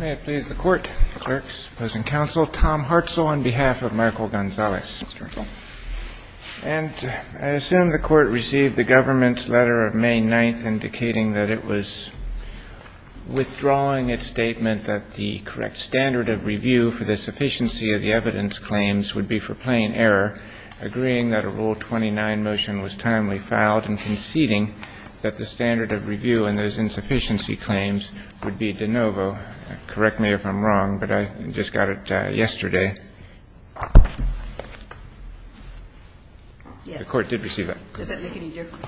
May it please the Court, clerks, opposing counsel, Tom Hartzell on behalf of Michael Gonzalez. And I assume the Court received the government's letter of May 9th indicating that it was withdrawing its statement that the correct standard of review for this efficiency of the evidence claims would be for plain error, agreeing that a Rule 29 motion was timely filed, and conceding that the standard of review in those insufficiency claims would be de novo. Correct me if I'm wrong, but I just got it yesterday. The Court did receive that. Does that make any difference?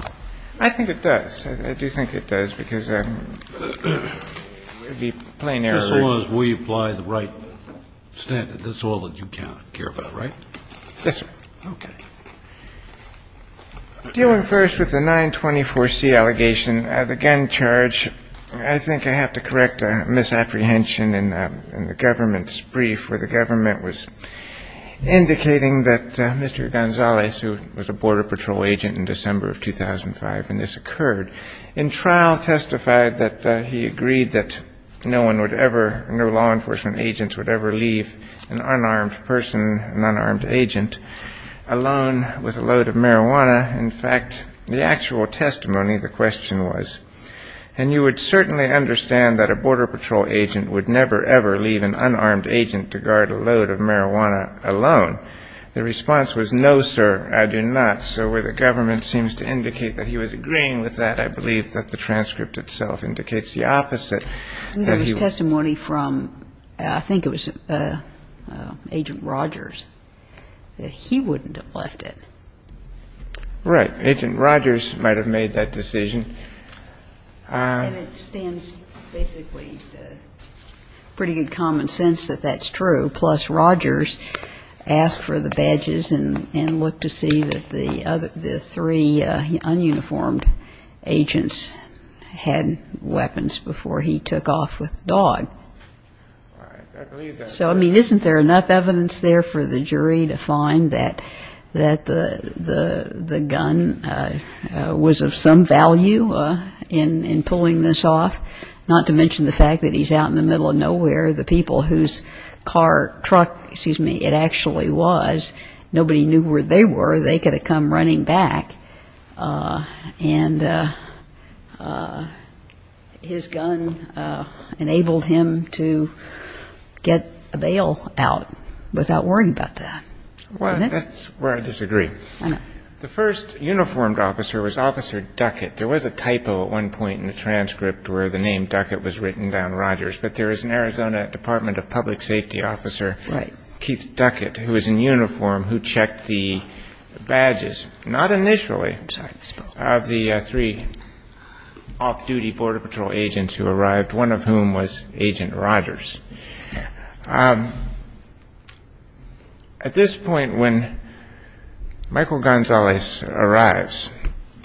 I think it does. I do think it does, because it would be plain error. Just as long as we apply the right standard. That's all that you care about, right? Yes, sir. Okay. Dealing first with the 924C allegation, the gun charge, I think I have to correct a misapprehension in the government's brief where the government was indicating that Mr. Gonzalez, who was a Border Patrol agent in December of 2005 when this occurred, in trial testified that he agreed that no one would ever, no law enforcement agents would ever leave an unarmed person, an unarmed agent, alone with a load of marijuana. In fact, the actual testimony, the question was, and you would certainly understand that a Border Patrol agent would never, ever leave an unarmed agent to guard a load of marijuana alone. The response was, no, sir, I do not. So where the government seems to indicate that he was agreeing with that, I believe that the transcript itself indicates the opposite. There was testimony from, I think it was Agent Rogers, that he wouldn't have left it. Right. Agent Rogers might have made that decision. And it stands basically pretty good common sense that that's true. Mr. Rogers asked for the badges and looked to see that the three ununiformed agents had weapons before he took off with the dog. So, I mean, isn't there enough evidence there for the jury to find that the gun was of some value in pulling this off? Not to mention the fact that he's out in the middle of nowhere. The people whose car, truck, excuse me, it actually was, nobody knew where they were. They could have come running back. And his gun enabled him to get a bailout without worrying about that. Well, that's where I disagree. I know. The first uniformed officer was Officer Duckett. There was a typo at one point in the transcript where the name Duckett was written down Rogers. But there was an Arizona Department of Public Safety officer, Keith Duckett, who was in uniform, who checked the badges, not initially, of the three off-duty Border Patrol agents who arrived, one of whom was Agent Rogers. At this point, when Michael Gonzalez arrives,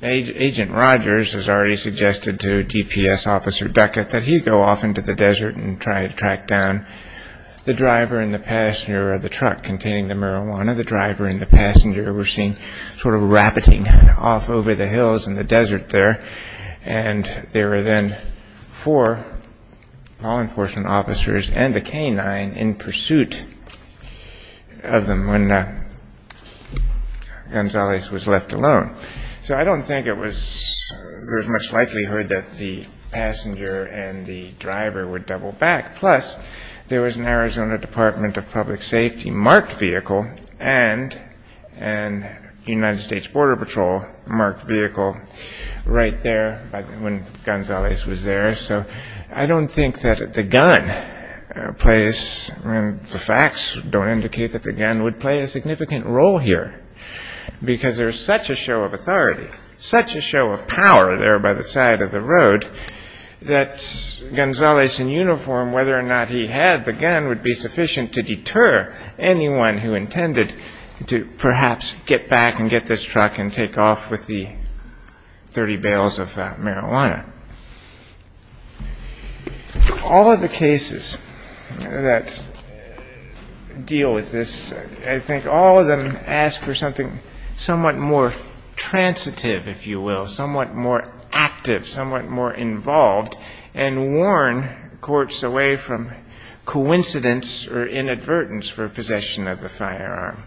Agent Rogers has already suggested to DPS officers and Officer Duckett that he go off into the desert and try to track down the driver and the passenger of the truck containing the marijuana. The driver and the passenger were seen sort of rappeting off over the hills in the desert there. And there were then four law enforcement officers and a canine in pursuit of them when Gonzalez was left alone. So I don't think it was, there was much likelihood that the passenger and the driver would double back. Plus, there was an Arizona Department of Public Safety marked vehicle and a United States Border Patrol marked vehicle right there when Gonzalez was there. So I don't think that the gun plays, the facts don't indicate that the gun would play a significant role here. Because there's such a show of authority, such a show of power there by the side of the road, that Gonzalez in uniform, whether or not he had the gun, would be sufficient to deter anyone who intended to perhaps get back and get this truck and take off with the 30 bales of marijuana. All of the cases that deal with this, I think all of them ask for something somewhat more transitive, if you will, somewhat more active, somewhat more involved, and warn courts away from coincidence or inadvertence for possession of the firearm.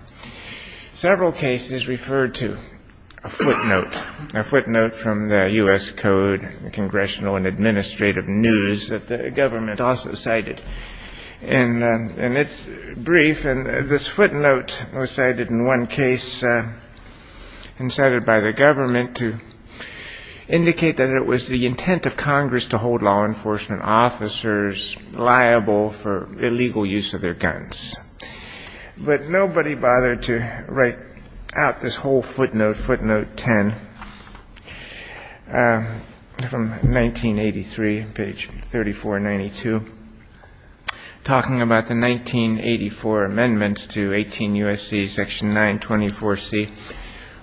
Several cases refer to a footnote, a footnote from the U.S. Code, Congressional and Administrative News, that the government also cited in its brief. And this footnote was cited in one case and cited by the government to indicate that it was the intent of Congress to hold law enforcement officers liable for illegal use of their guns. But nobody bothered to write out this whole footnote, footnote 10, from 1983, page 3492, talking about the 1984 amendments to 18 U.S.C. section 924C.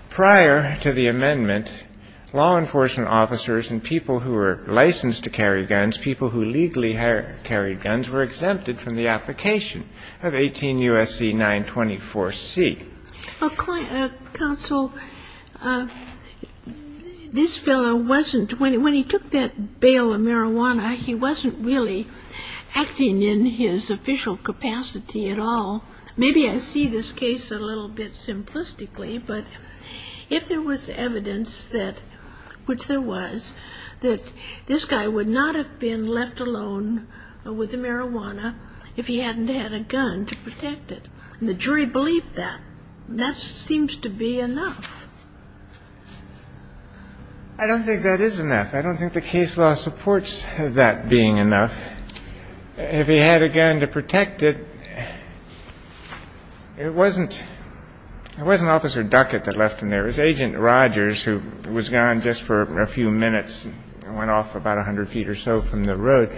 Prior to the amendment, law enforcement officers and people who were licensed to carry guns, people who legally carried guns, were exempted from the application of 18 U.S.C. 924C. Counsel, this fellow wasn't, when he took that bale of marijuana, he wasn't really acting in his official capacity at all. Maybe I see this case a little bit simplistically, but if there was evidence that, which there was, that this guy would not have been left alone with the marijuana if he hadn't had a gun to protect it. And the jury believed that. That seems to be enough. I don't think that is enough. I don't think the case law supports that being enough. If he had a gun to protect it, it wasn't, it wasn't Officer Duckett that left him there. There was Agent Rogers who was gone just for a few minutes and went off about 100 feet or so from the road.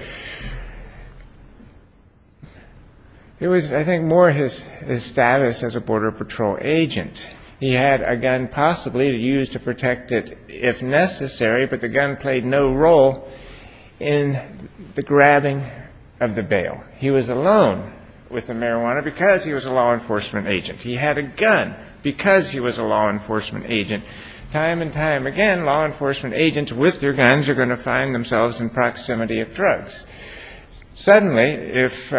It was, I think, more his status as a Border Patrol agent. He had a gun possibly to use to protect it if necessary, but the gun played no role in the grabbing of the bale. He was alone with the marijuana because he was a law enforcement agent. He had a gun because he was a law enforcement agent. Time and time again, law enforcement agents with their guns are going to find themselves in proximity of drugs. Suddenly, if,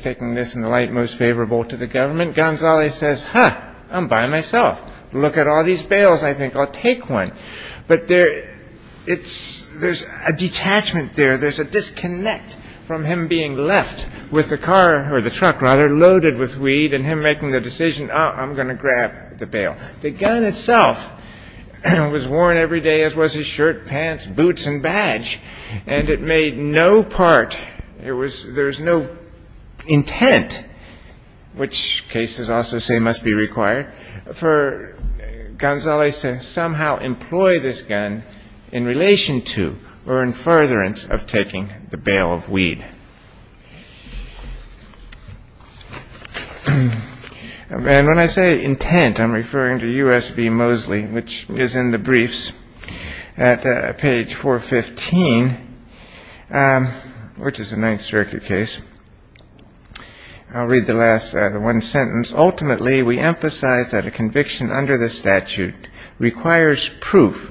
taking this in the light most favorable to the government, Gonzales says, huh, I'm by myself. Look at all these bales, I think. I'll take one. But there, it's, there's a detachment there. There's a disconnect from him being left with the car, or the truck, rather, loaded with weed, and him making the decision, oh, I'm going to grab the bale. The gun itself was worn every day, as was his shirt, pants, boots, and badge, and it made no part, there was, there was no intent, which cases also say must be required, for Gonzales to somehow employ this gun in relation to or in furtherance of taking the bale of weed. And when I say intent, I'm referring to U.S. v. Mosley, which is in the briefs at page 415, which is a Ninth Circuit case. I'll read the last, the one sentence. Ultimately, we emphasize that a conviction under the statute requires proof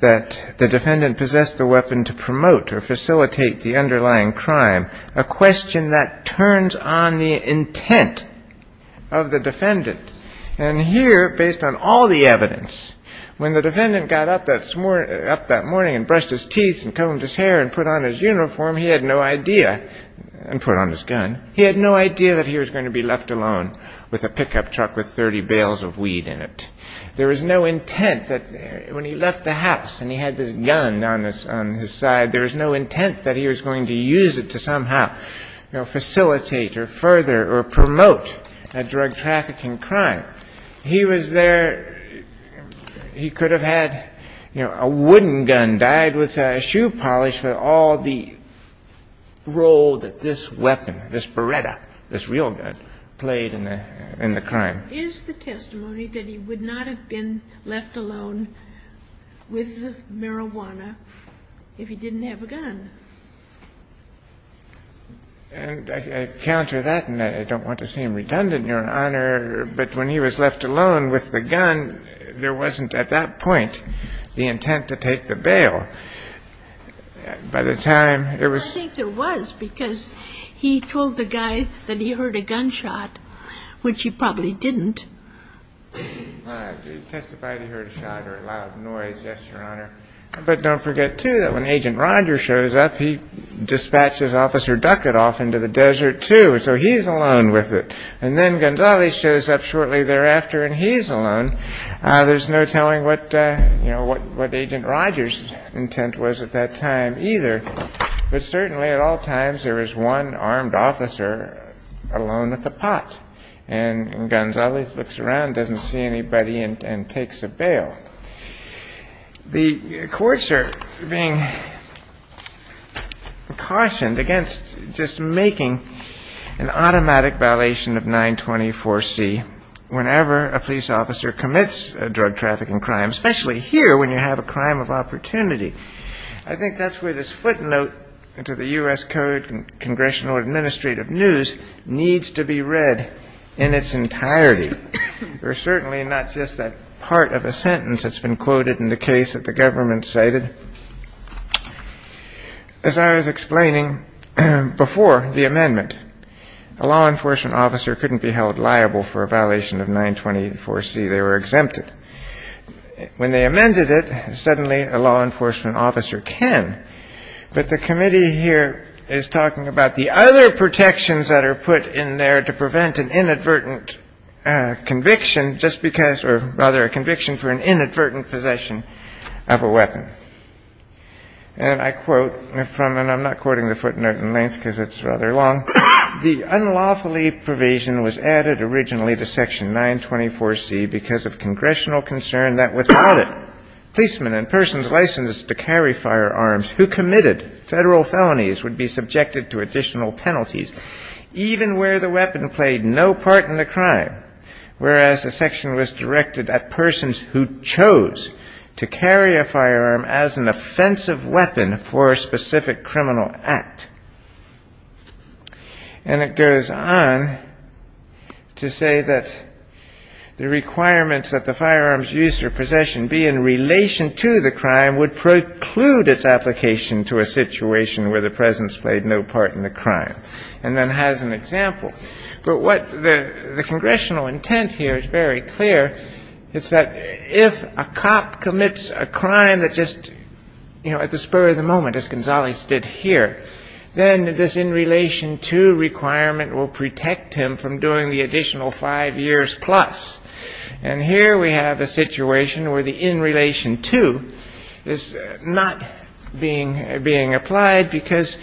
that the defendant possessed a weapon to promote or facilitate the underlying crime, a question that turns on the intent of the defendant's intent to take the bale of weed. And here, based on all the evidence, when the defendant got up that morning and brushed his teeth and combed his hair and put on his uniform, he had no idea, and put on his gun, he had no idea that he was going to be left alone with a pickup truck with 30 bales of weed in it. There was no intent that, when he left the house and he had his gun on his side, there was no intent that he was going to use it to somehow, you know, facilitate or further or promote the underlying crime. He was there, he could have had, you know, a wooden gun dyed with a shoe polish for all the role that this weapon, this Beretta, this real gun, played in the crime. Is the testimony that he would not have been left alone with marijuana if he didn't have a gun? And I counter that, and I don't want to seem redundant, Your Honor, but when he was left alone with the gun, there wasn't, at that point, the intent to take the bale. By the time it was ‑‑ I think there was, because he told the guy that he heard a gunshot, which he probably didn't. He testified he heard a shot or a loud noise, yes, Your Honor. But don't forget, too, that when Agent Roger shows up, he dispatches Officer Duckett off into the desert, too, so he's alone with it. And then Gonzales shows up shortly thereafter, and he's alone. There's no telling what, you know, what Agent Roger's intent was at that time either. But certainly, at all times, there is one armed officer alone at the pot, and Gonzales looks around, doesn't see anybody, and takes the bale. The courts are being cautioned against just making an automatic violation of 924C whenever a police officer commits a drug trafficking crime, especially here when you have a crime of opportunity. I think that's where this footnote to the U.S. Code and Congressional Administrative News needs to be read in its entirety. There's certainly not just that part of a sentence that's been quoted in the case that the government cited. As I was explaining before the amendment, a law enforcement officer couldn't be held liable for a violation of 924C. They were exempted. When they amended it, suddenly a law enforcement officer can. But the committee here is talking about the other protections that are put in there to prevent an inadvertent conviction just because or rather a conviction for an inadvertent possession of a weapon. And I quote from, and I'm not quoting the footnote in length because it's rather long, The unlawfully provision was added originally to Section 924C because of congressional concern that without it, policemen and persons licensed to carry firearms who committed Federal felonies would be subjected to additional penalties even where the weapon played no part in the crime, whereas the section was directed at persons who chose to carry a firearm as an offensive weapon for a specific criminal act. And it goes on to say that the requirements that the firearms used or possession be in relation to the crime would preclude its application to a situation where the presence played no part in the crime, and then has an example. But what the congressional intent here is very clear. It's that if a cop commits a crime that just, you know, at the spur of the moment, as Gonzales did here, then this in relation to requirement will protect him from doing the additional five years plus. And here we have a situation where the in relation to is not being applied because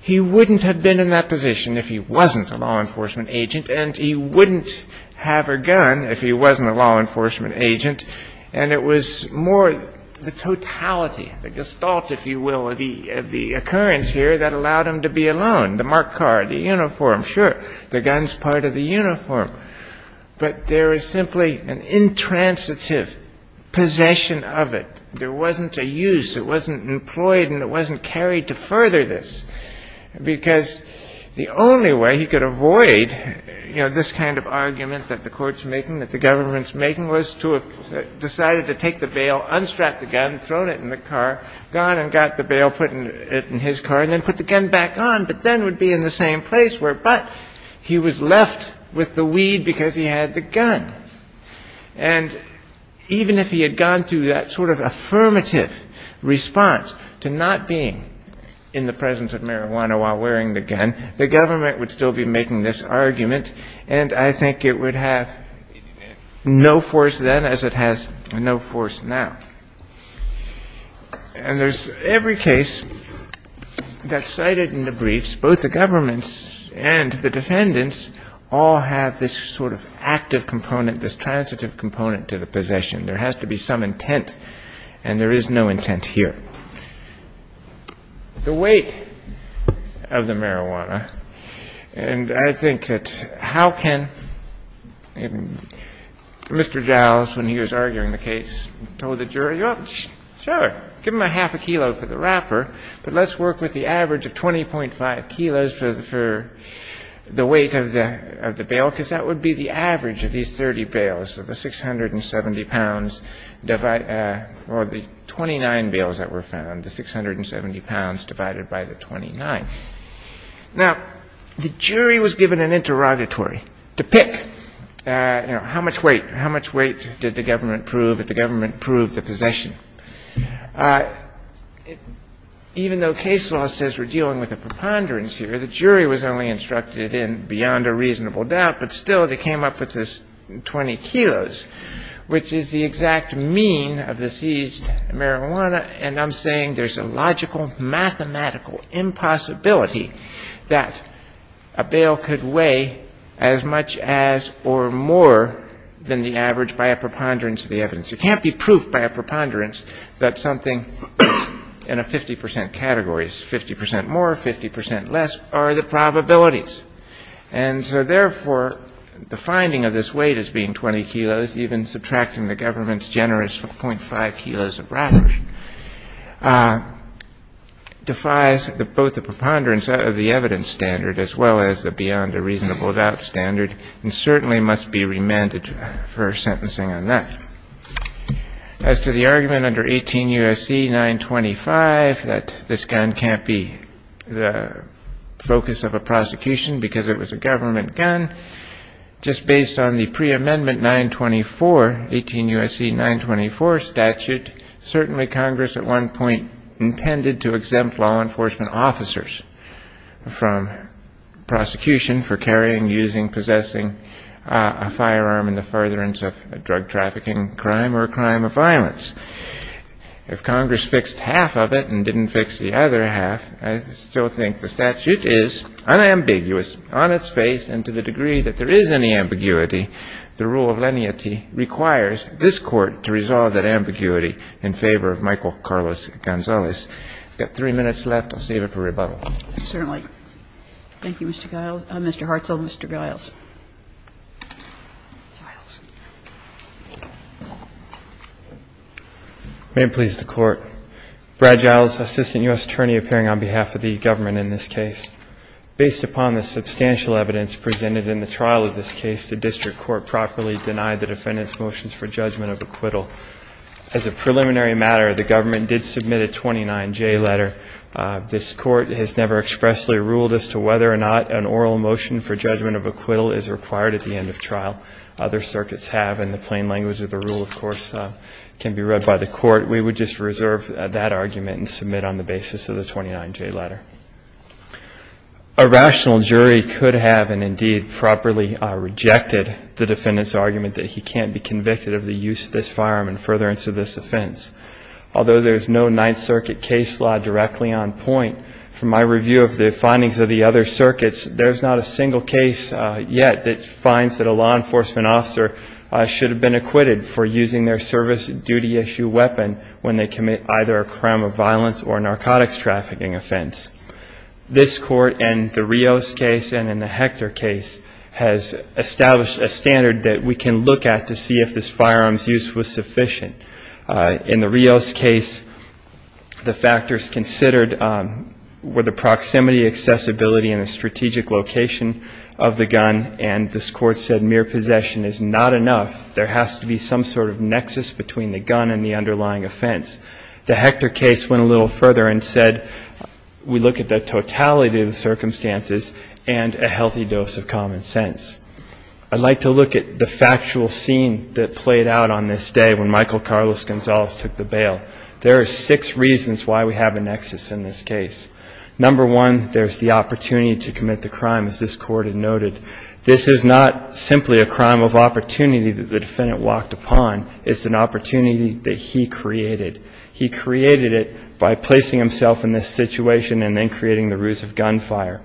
he wouldn't have been in that position if he wasn't a law enforcement agent, and he wouldn't have a gun if he wasn't a law enforcement agent. And it was more the totality, the gestalt, if you will, of the occurrence here that allowed him to be alone, the marked car, the uniform. Sure, the gun's part of the uniform. But there is simply an intransitive possession of it. There wasn't a use, it wasn't employed, and it wasn't carried to further this, because the only way he could avoid, you know, this kind of argument that the Court's making, that the government's making, was to have decided to take the bail, unstrap the gun, thrown it in the car, gone and got the bail, put it in his car, and then put the gun back on, but then would be in the same place where but he was left with the weed because he had the gun. And even if he had gone through that sort of affirmative response to not being in the presence of marijuana while wearing the gun, the government would still be making this argument, and I think it would have no force then as it has no force now. And there's every case that's cited in the briefs, both the government's and the The weight of the marijuana, and I think that how can Mr. Jowles, when he was arguing the case, told the jury, well, sure, give him a half a kilo for the wrapper, but let's work with the average of 20.5 kilos for the weight of the bail, because that would be the average of these 30 bails. So the 670 pounds divide or the 29 bails that were found, the 670 pounds divided by the 29. Now, the jury was given an interrogatory to pick, you know, how much weight, how much weight did the government prove that the government proved the possession. Even though case law says we're dealing with a preponderance here, the jury was only 20 kilos, which is the exact mean of the seized marijuana, and I'm saying there's a logical, mathematical impossibility that a bail could weigh as much as or more than the average by a preponderance of the evidence. It can't be proved by a preponderance that something in a 50 percent category is 50 percent more, 50 percent less, are the probabilities. And so, therefore, the finding of this weight as being 20 kilos, even subtracting the government's generous 0.5 kilos of wrapper, defies both the preponderance of the evidence standard as well as the beyond a reasonable doubt standard, and certainly must be remanded for sentencing on that. As to the argument under 18 U.S.C. 925 that this gun can't be the focus of a prosecution because it was a government gun, just based on the preamendment 924, 18 U.S.C. 924 statute, certainly Congress at one point intended to exempt law enforcement officers from prosecution for carrying, using, possessing a firearm in the furtherance of a drug trafficking crime or a crime of violence. If Congress fixed half of it and didn't fix the other half, I still think the statute is unambiguous on its face, and to the degree that there is any ambiguity, the rule of leniency requires this Court to resolve that ambiguity in favor of Michael Carlos Gonzalez. I've got three minutes left. I'll save it for rebuttal. Certainly. Thank you, Mr. Giles. Mr. Hartzell, Mr. Giles. Giles. May it please the Court. Brad Giles, Assistant U.S. Attorney, appearing on behalf of the government in this case. Based upon the substantial evidence presented in the trial of this case, the district court properly denied the defendant's motions for judgment of acquittal. As a preliminary matter, the government did submit a 29J letter. This Court has never expressly ruled as to whether or not an oral motion for judgment of acquittal is required at the end of trial. Other circuits have, and the plain language of the rule, of course, can be read by the Court. We would just reserve that argument and submit on the basis of the 29J letter. A rational jury could have and indeed properly rejected the defendant's argument that he can't be convicted of the use of this firearm in furtherance of this offense. Although there is no Ninth Circuit case law directly on point, from my review of the findings of the other circuits, there is not a single case yet that finds that a law enforcement officer should have been acquitted for using their service duty issue weapon when they commit either a crime of violence or a narcotics trafficking offense. This Court, in the Rios case and in the Hector case, has established a standard that we can look at to see if this firearm's use was sufficient. In the Rios case, the factors considered were the proximity, accessibility, and the strategic location of the gun, and this Court said mere possession is not enough. There has to be some sort of nexus between the gun and the underlying offense. The Hector case went a little further and said we look at the totality of the circumstances and a healthy dose of common sense. I'd like to look at the factual scene that played out on this day when Michael Carlos Gonzalez took the bail. There are six reasons why we have a nexus in this case. Number one, there's the opportunity to commit the crime, as this Court had noted. This is not simply a crime of opportunity that the defendant walked upon. It's an opportunity that he created. He created it by placing himself in this situation and then creating the ruse of gunfire.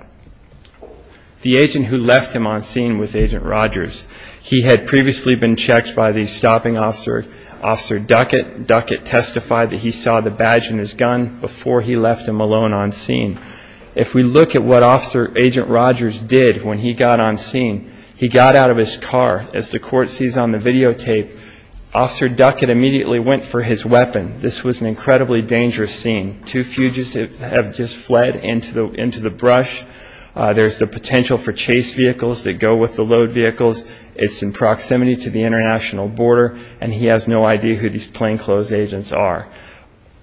The agent who left him on scene was Agent Rogers. He had previously been checked by the stopping officer, Officer Duckett. Duckett testified that he saw the badge in his gun before he left him alone on scene. If we look at what Agent Rogers did when he got on scene, he got out of his car. As the Court sees on the videotape, Officer Duckett immediately went for his weapon. This was an incredibly dangerous scene. Two fugitives have just fled into the brush. There's the potential for chase vehicles that go with the load vehicles. It's in proximity to the international border, and he has no idea who these plainclothes agents are.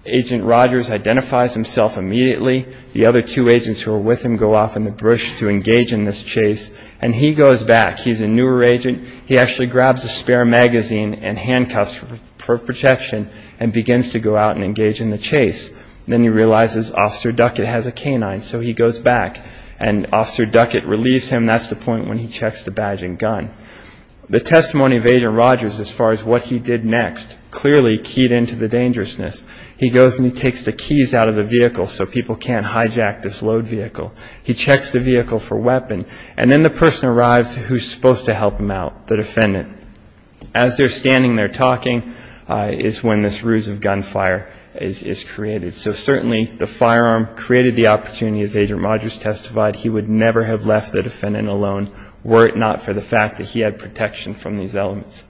Agent Rogers identifies himself immediately. The other two agents who were with him go off in the brush to engage in this chase, and he goes back. He's a newer agent. He actually grabs a spare magazine and handcuffs for protection and begins to go out and engage in the chase. Then he realizes Officer Duckett has a canine, so he goes back, and Officer Duckett relieves him. That's the point when he checks the badge and gun. The testimony of Agent Rogers as far as what he did next clearly keyed into the dangerousness. He goes and he takes the keys out of the vehicle so people can't hijack this load vehicle. He checks the vehicle for weapon, and then the person arrives who's supposed to help him out, the defendant. As they're standing there talking is when this ruse of gunfire is created. So certainly the firearm created the opportunity, as Agent Rogers testified. He would never have left the defendant alone were it not for the fact that he had protection from these elements.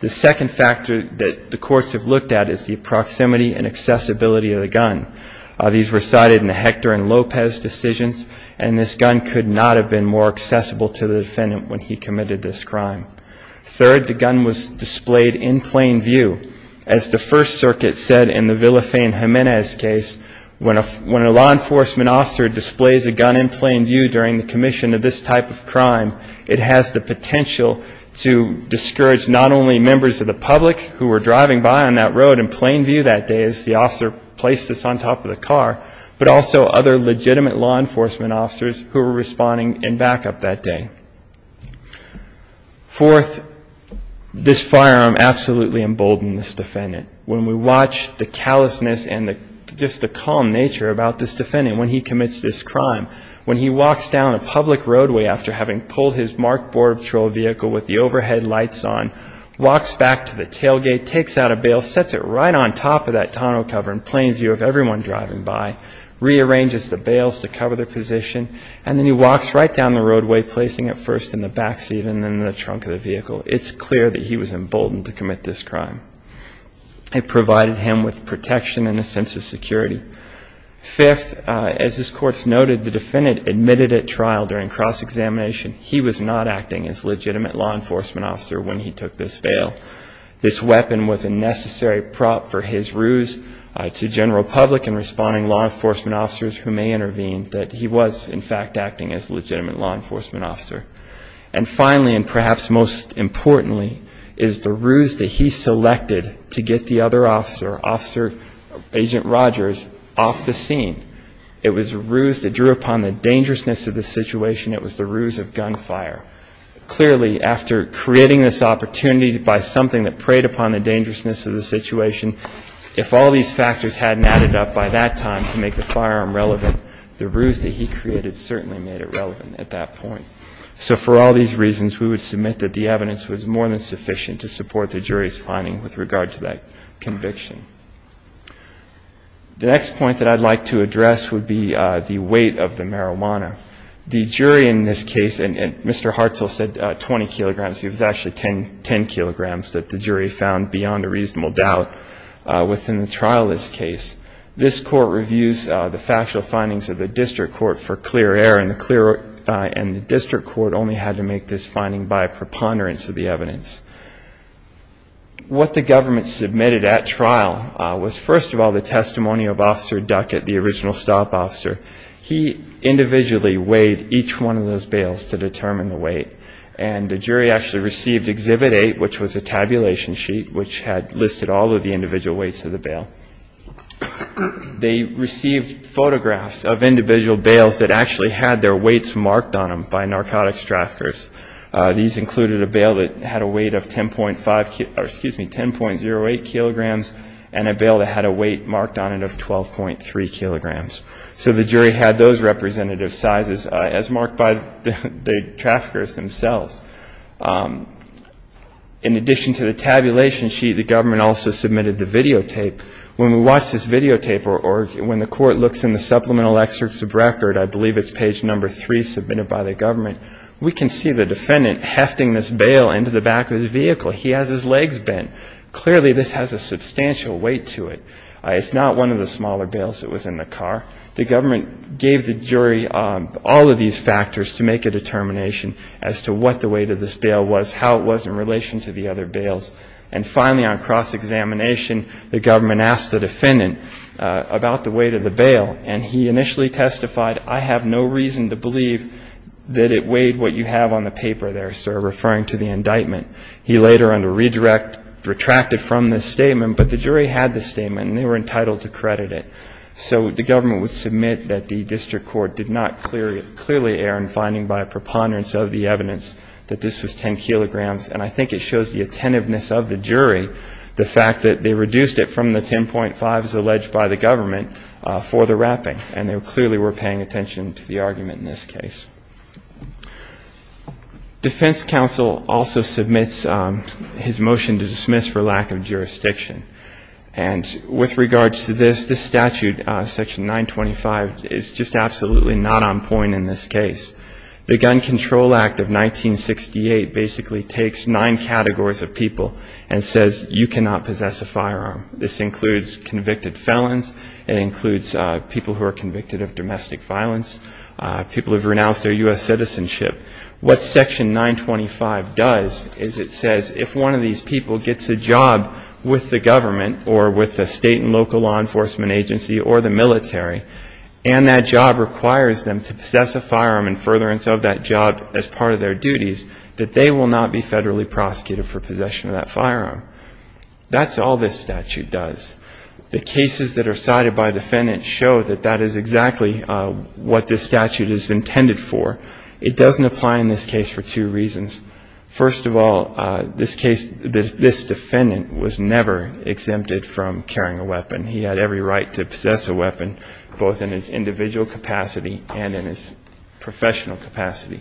The second factor that the courts have looked at is the proximity and accessibility of the gun. These were cited in the Hector and Lopez decisions, and this gun could not have been more accessible to the defendant when he committed this crime. Third, the gun was displayed in plain view. As the First Circuit said in the Villafane Jimenez case, when a law enforcement officer displays a gun in plain view during the commission of this type of crime, it has the potential to discourage not only members of the public who were driving by on that road in plain view that day as the officer placed this on top of the car, but also other legitimate law enforcement officers who were responding in backup that day. Fourth, this firearm absolutely emboldened this defendant. When we watch the callousness and just the calm nature about this defendant when he commits this crime, when he walks down a public roadway after having pulled his marked Border Patrol vehicle with the overhead lights on, walks back to the tailgate, takes out a bail, sets it right on top of that tonneau cover in plain sight, rearranges the bails to cover their position, and then he walks right down the roadway, placing it first in the backseat and then in the trunk of the vehicle. It's clear that he was emboldened to commit this crime. It provided him with protection and a sense of security. Fifth, as this Court's noted, the defendant admitted at trial during cross-examination he was not acting as legitimate law enforcement officer when he took this bail. This weapon was a necessary prop for his ruse to general public and responding law enforcement officers who may intervene that he was, in fact, acting as legitimate law enforcement officer. And finally, and perhaps most importantly, is the ruse that he selected to get the other officer, Agent Rogers, off the scene. It was a ruse that drew upon the dangerousness of the situation. It was the ruse of gunfire. Clearly, after creating this opportunity by something that preyed upon the dangerousness of the situation, if all these factors hadn't added up by that time to make the firearm relevant, the ruse that he created certainly made it relevant at that point. So for all these reasons, we would submit that the evidence was more than sufficient to support the jury's finding with regard to that conviction. The next point that I'd like to address would be the weight of the marijuana. The jury in this case, and Mr. Hartzell said 20 kilograms. It was actually 10 kilograms that the jury found beyond a reasonable doubt within the trial of this case. This court reviews the factual findings of the district court for clear error, and the district court only had to make this finding by preponderance of the evidence. What the government submitted at trial was, first of all, the testimony of Officer Duckett, the original stop officer. He individually weighed each one of those bales to determine the weight, and the jury actually received Exhibit 8, which was a tabulation sheet which had listed all of the individual weights of the bale. They received photographs of individual bales that actually had their weights marked on them by narcotics traffickers. These included a bale that had a weight of 10.05 kilograms, or excuse me, 10.08 kilograms, and a bale that had a weight marked on it of 12.3 kilograms. So the jury had those representative sizes as marked by the traffickers themselves. In addition to the tabulation sheet, the government also submitted the videotape. When we watch this videotape or when the court looks in the supplemental excerpts of record, I believe it's page number three submitted by the government, we can see the defendant hefting this bale into the back of the vehicle. He has his legs bent. Clearly, this has a substantial weight to it. It's not one of the smaller bales that was in the car. The government gave the jury all of these factors to make a determination as to what the weight of this bale was, how it was in relation to the other bales. And finally, on cross-examination, the government asked the defendant about the weight of the bale, and he initially testified, I have no reason to believe that it weighed what you have on the paper there, sir, referring to the indictment. He later, under redirect, retracted from this statement. But the jury had this statement, and they were entitled to credit it. So the government would submit that the district court did not clearly err in finding by a preponderance of the evidence that this was 10 kilograms. And I think it shows the attentiveness of the jury, the fact that they reduced it from the 10.5 as alleged by the government for the wrapping. And they clearly were paying attention to the argument in this case. Defense counsel also submits his motion to dismiss for lack of jurisdiction. And with regards to this, this statute, Section 925, is just absolutely not on point in this case. The Gun Control Act of 1968 basically takes nine categories of people and says you cannot possess a firearm. This includes convicted felons. It includes people who are convicted of domestic violence, people who have renounced their U.S. citizenship. What Section 925 does is it says if one of these people gets a job with the government or with a state and local law enforcement agency or the military, and that job requires them to possess a firearm and furtherance of that job as part of their duties, that they will not be federally prosecuted for possession of that firearm. That's all this statute does. The cases that are cited by defendants show that that is exactly what this statute is intended for. It doesn't apply in this case for two reasons. First of all, this defendant was never exempted from carrying a weapon. He had every right to possess a weapon, both in his individual capacity and in his professional capacity.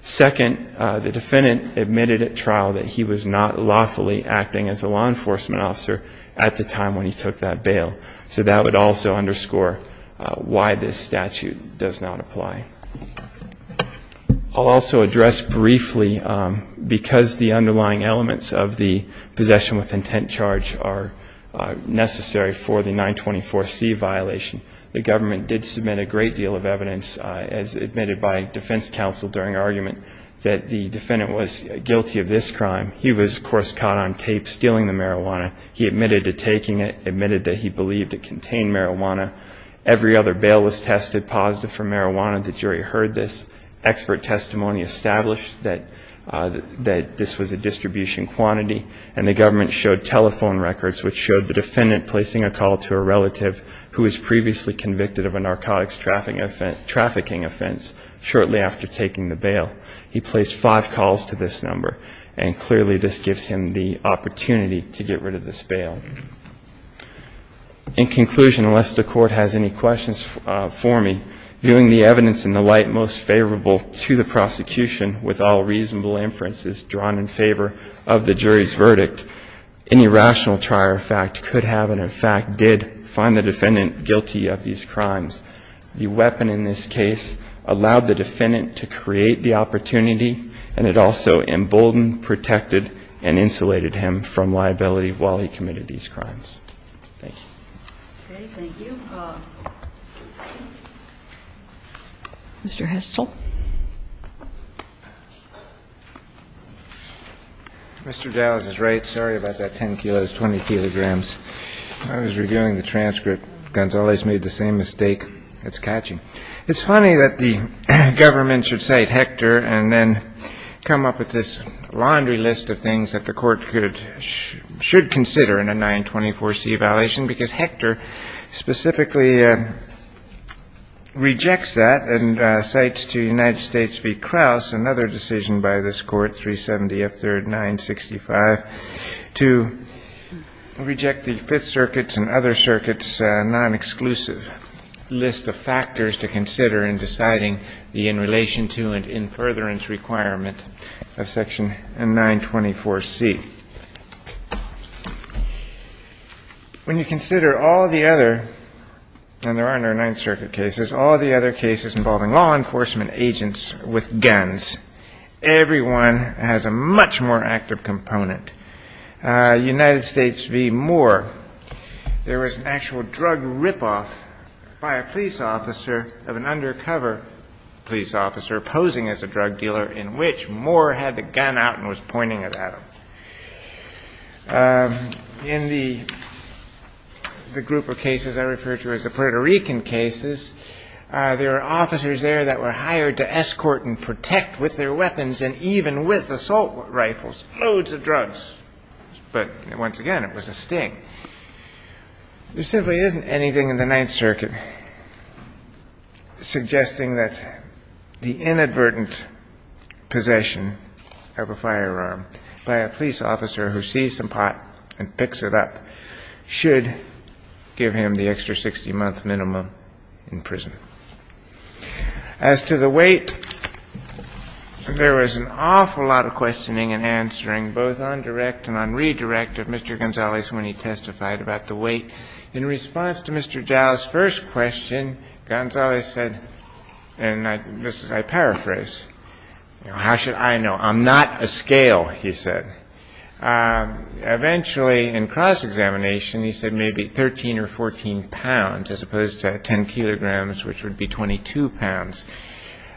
Second, the defendant admitted at trial that he was not lawfully acting as a law enforcement officer at the time when he took that bail. So that would also underscore why this statute does not apply. I'll also address briefly, because the underlying elements of the possession with intent charge are necessary for the 924C violation, the government did submit a great deal of evidence, as admitted by defense counsel during argument, that the defendant was guilty of this crime. He was, of course, caught on tape stealing the marijuana. He admitted to taking it, admitted that he believed it contained marijuana. Every other bail was tested positive for marijuana. The jury heard this. Expert testimony established that this was a distribution quantity, and the government showed telephone records which showed the defendant placing a call to a relative who was previously convicted of a narcotics trafficking offense shortly after taking the bail. He placed five calls to this number, and clearly this gives him the opportunity to get rid of this bail. In conclusion, unless the Court has any questions for me, viewing the evidence in the light most favorable to the prosecution, with all reasonable inferences drawn in favor of the jury's verdict, any rational trier of fact could have and, in fact, did find the defendant guilty of these crimes. The weapon in this case allowed the defendant to create the opportunity, and it also emboldened, protected, and insulated him from liability while he committed these crimes. Thank you. Okay. Thank you. Mr. Hessel. Mr. Dawes is right. Sorry about that 10 kilos, 20 kilograms. I was reviewing the transcript. Gonzales made the same mistake. It's catchy. It's funny that the government should cite Hector and then come up with this laundry list of things that the Court could or should consider in a 924C violation, because Hector specifically rejects that and cites to United States v. Krauss another decision by this Court, 370F3rd 965, to reject the Fifth Circuit's and other circuits' non-exclusive list of factors to consider in deciding the in relation to and in furtherance requirement of Section 924C. When you consider all the other, and there are no Ninth Circuit cases, all the other cases involving law enforcement, there is no law enforcement case that is not considered by the Court to be a non-exclusive and non-active component. United States v. Moore, there was an actual drug ripoff by a police officer of an undercover police officer posing as a drug dealer in which Moore had the gun out and was pointing it at him. In the group of cases I refer to as the Puerto Rican cases, there were officers there that were hired to escort and protect with their weapons and even with assault rifles, loads of drugs. But once again, it was a sting. There simply isn't anything in the Ninth Circuit suggesting that the inadvertent possession of a firearm by a police officer who sees some pot and picks it up should give him the extra 60-month minimum in prison. As to the weight, there was an awful lot of questioning and answering, both on direct and on redirect, of Mr. Gonzales when he testified about the weight. In response to Mr. Jowell's first question, Gonzales said, and I paraphrase, how should I know? I'm not a scale, he said. Eventually, in cross-examination, he said maybe 13 or 14 pounds as opposed to 10 kilograms, which would be 22 pounds.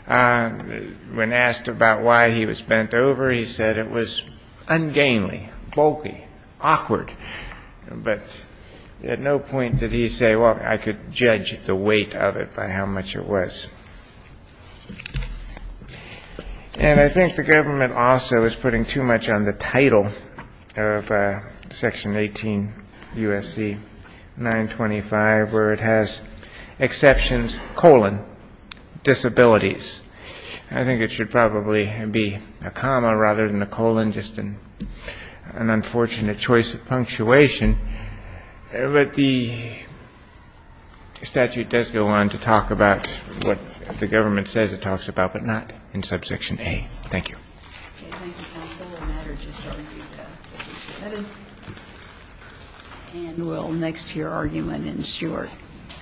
When asked about why he was bent over, he said it was ungainly, bulky, awkward. But at no point did he say, well, I could judge the weight of it by how much it was. And I think the government also is putting too much on the title of Section 18 U.S.C. 925, where it has exceptions, colon, disabilities. I think it should probably be a comma rather than a colon, just an unfortunate choice of punctuation. But the statute does go on to talk about what the government says it talks about, but not in Subsection A. MS. MCGOWAN. Thank you, counsel. The matter just argued 57. And we'll next hear argument in Stewart. Thank you.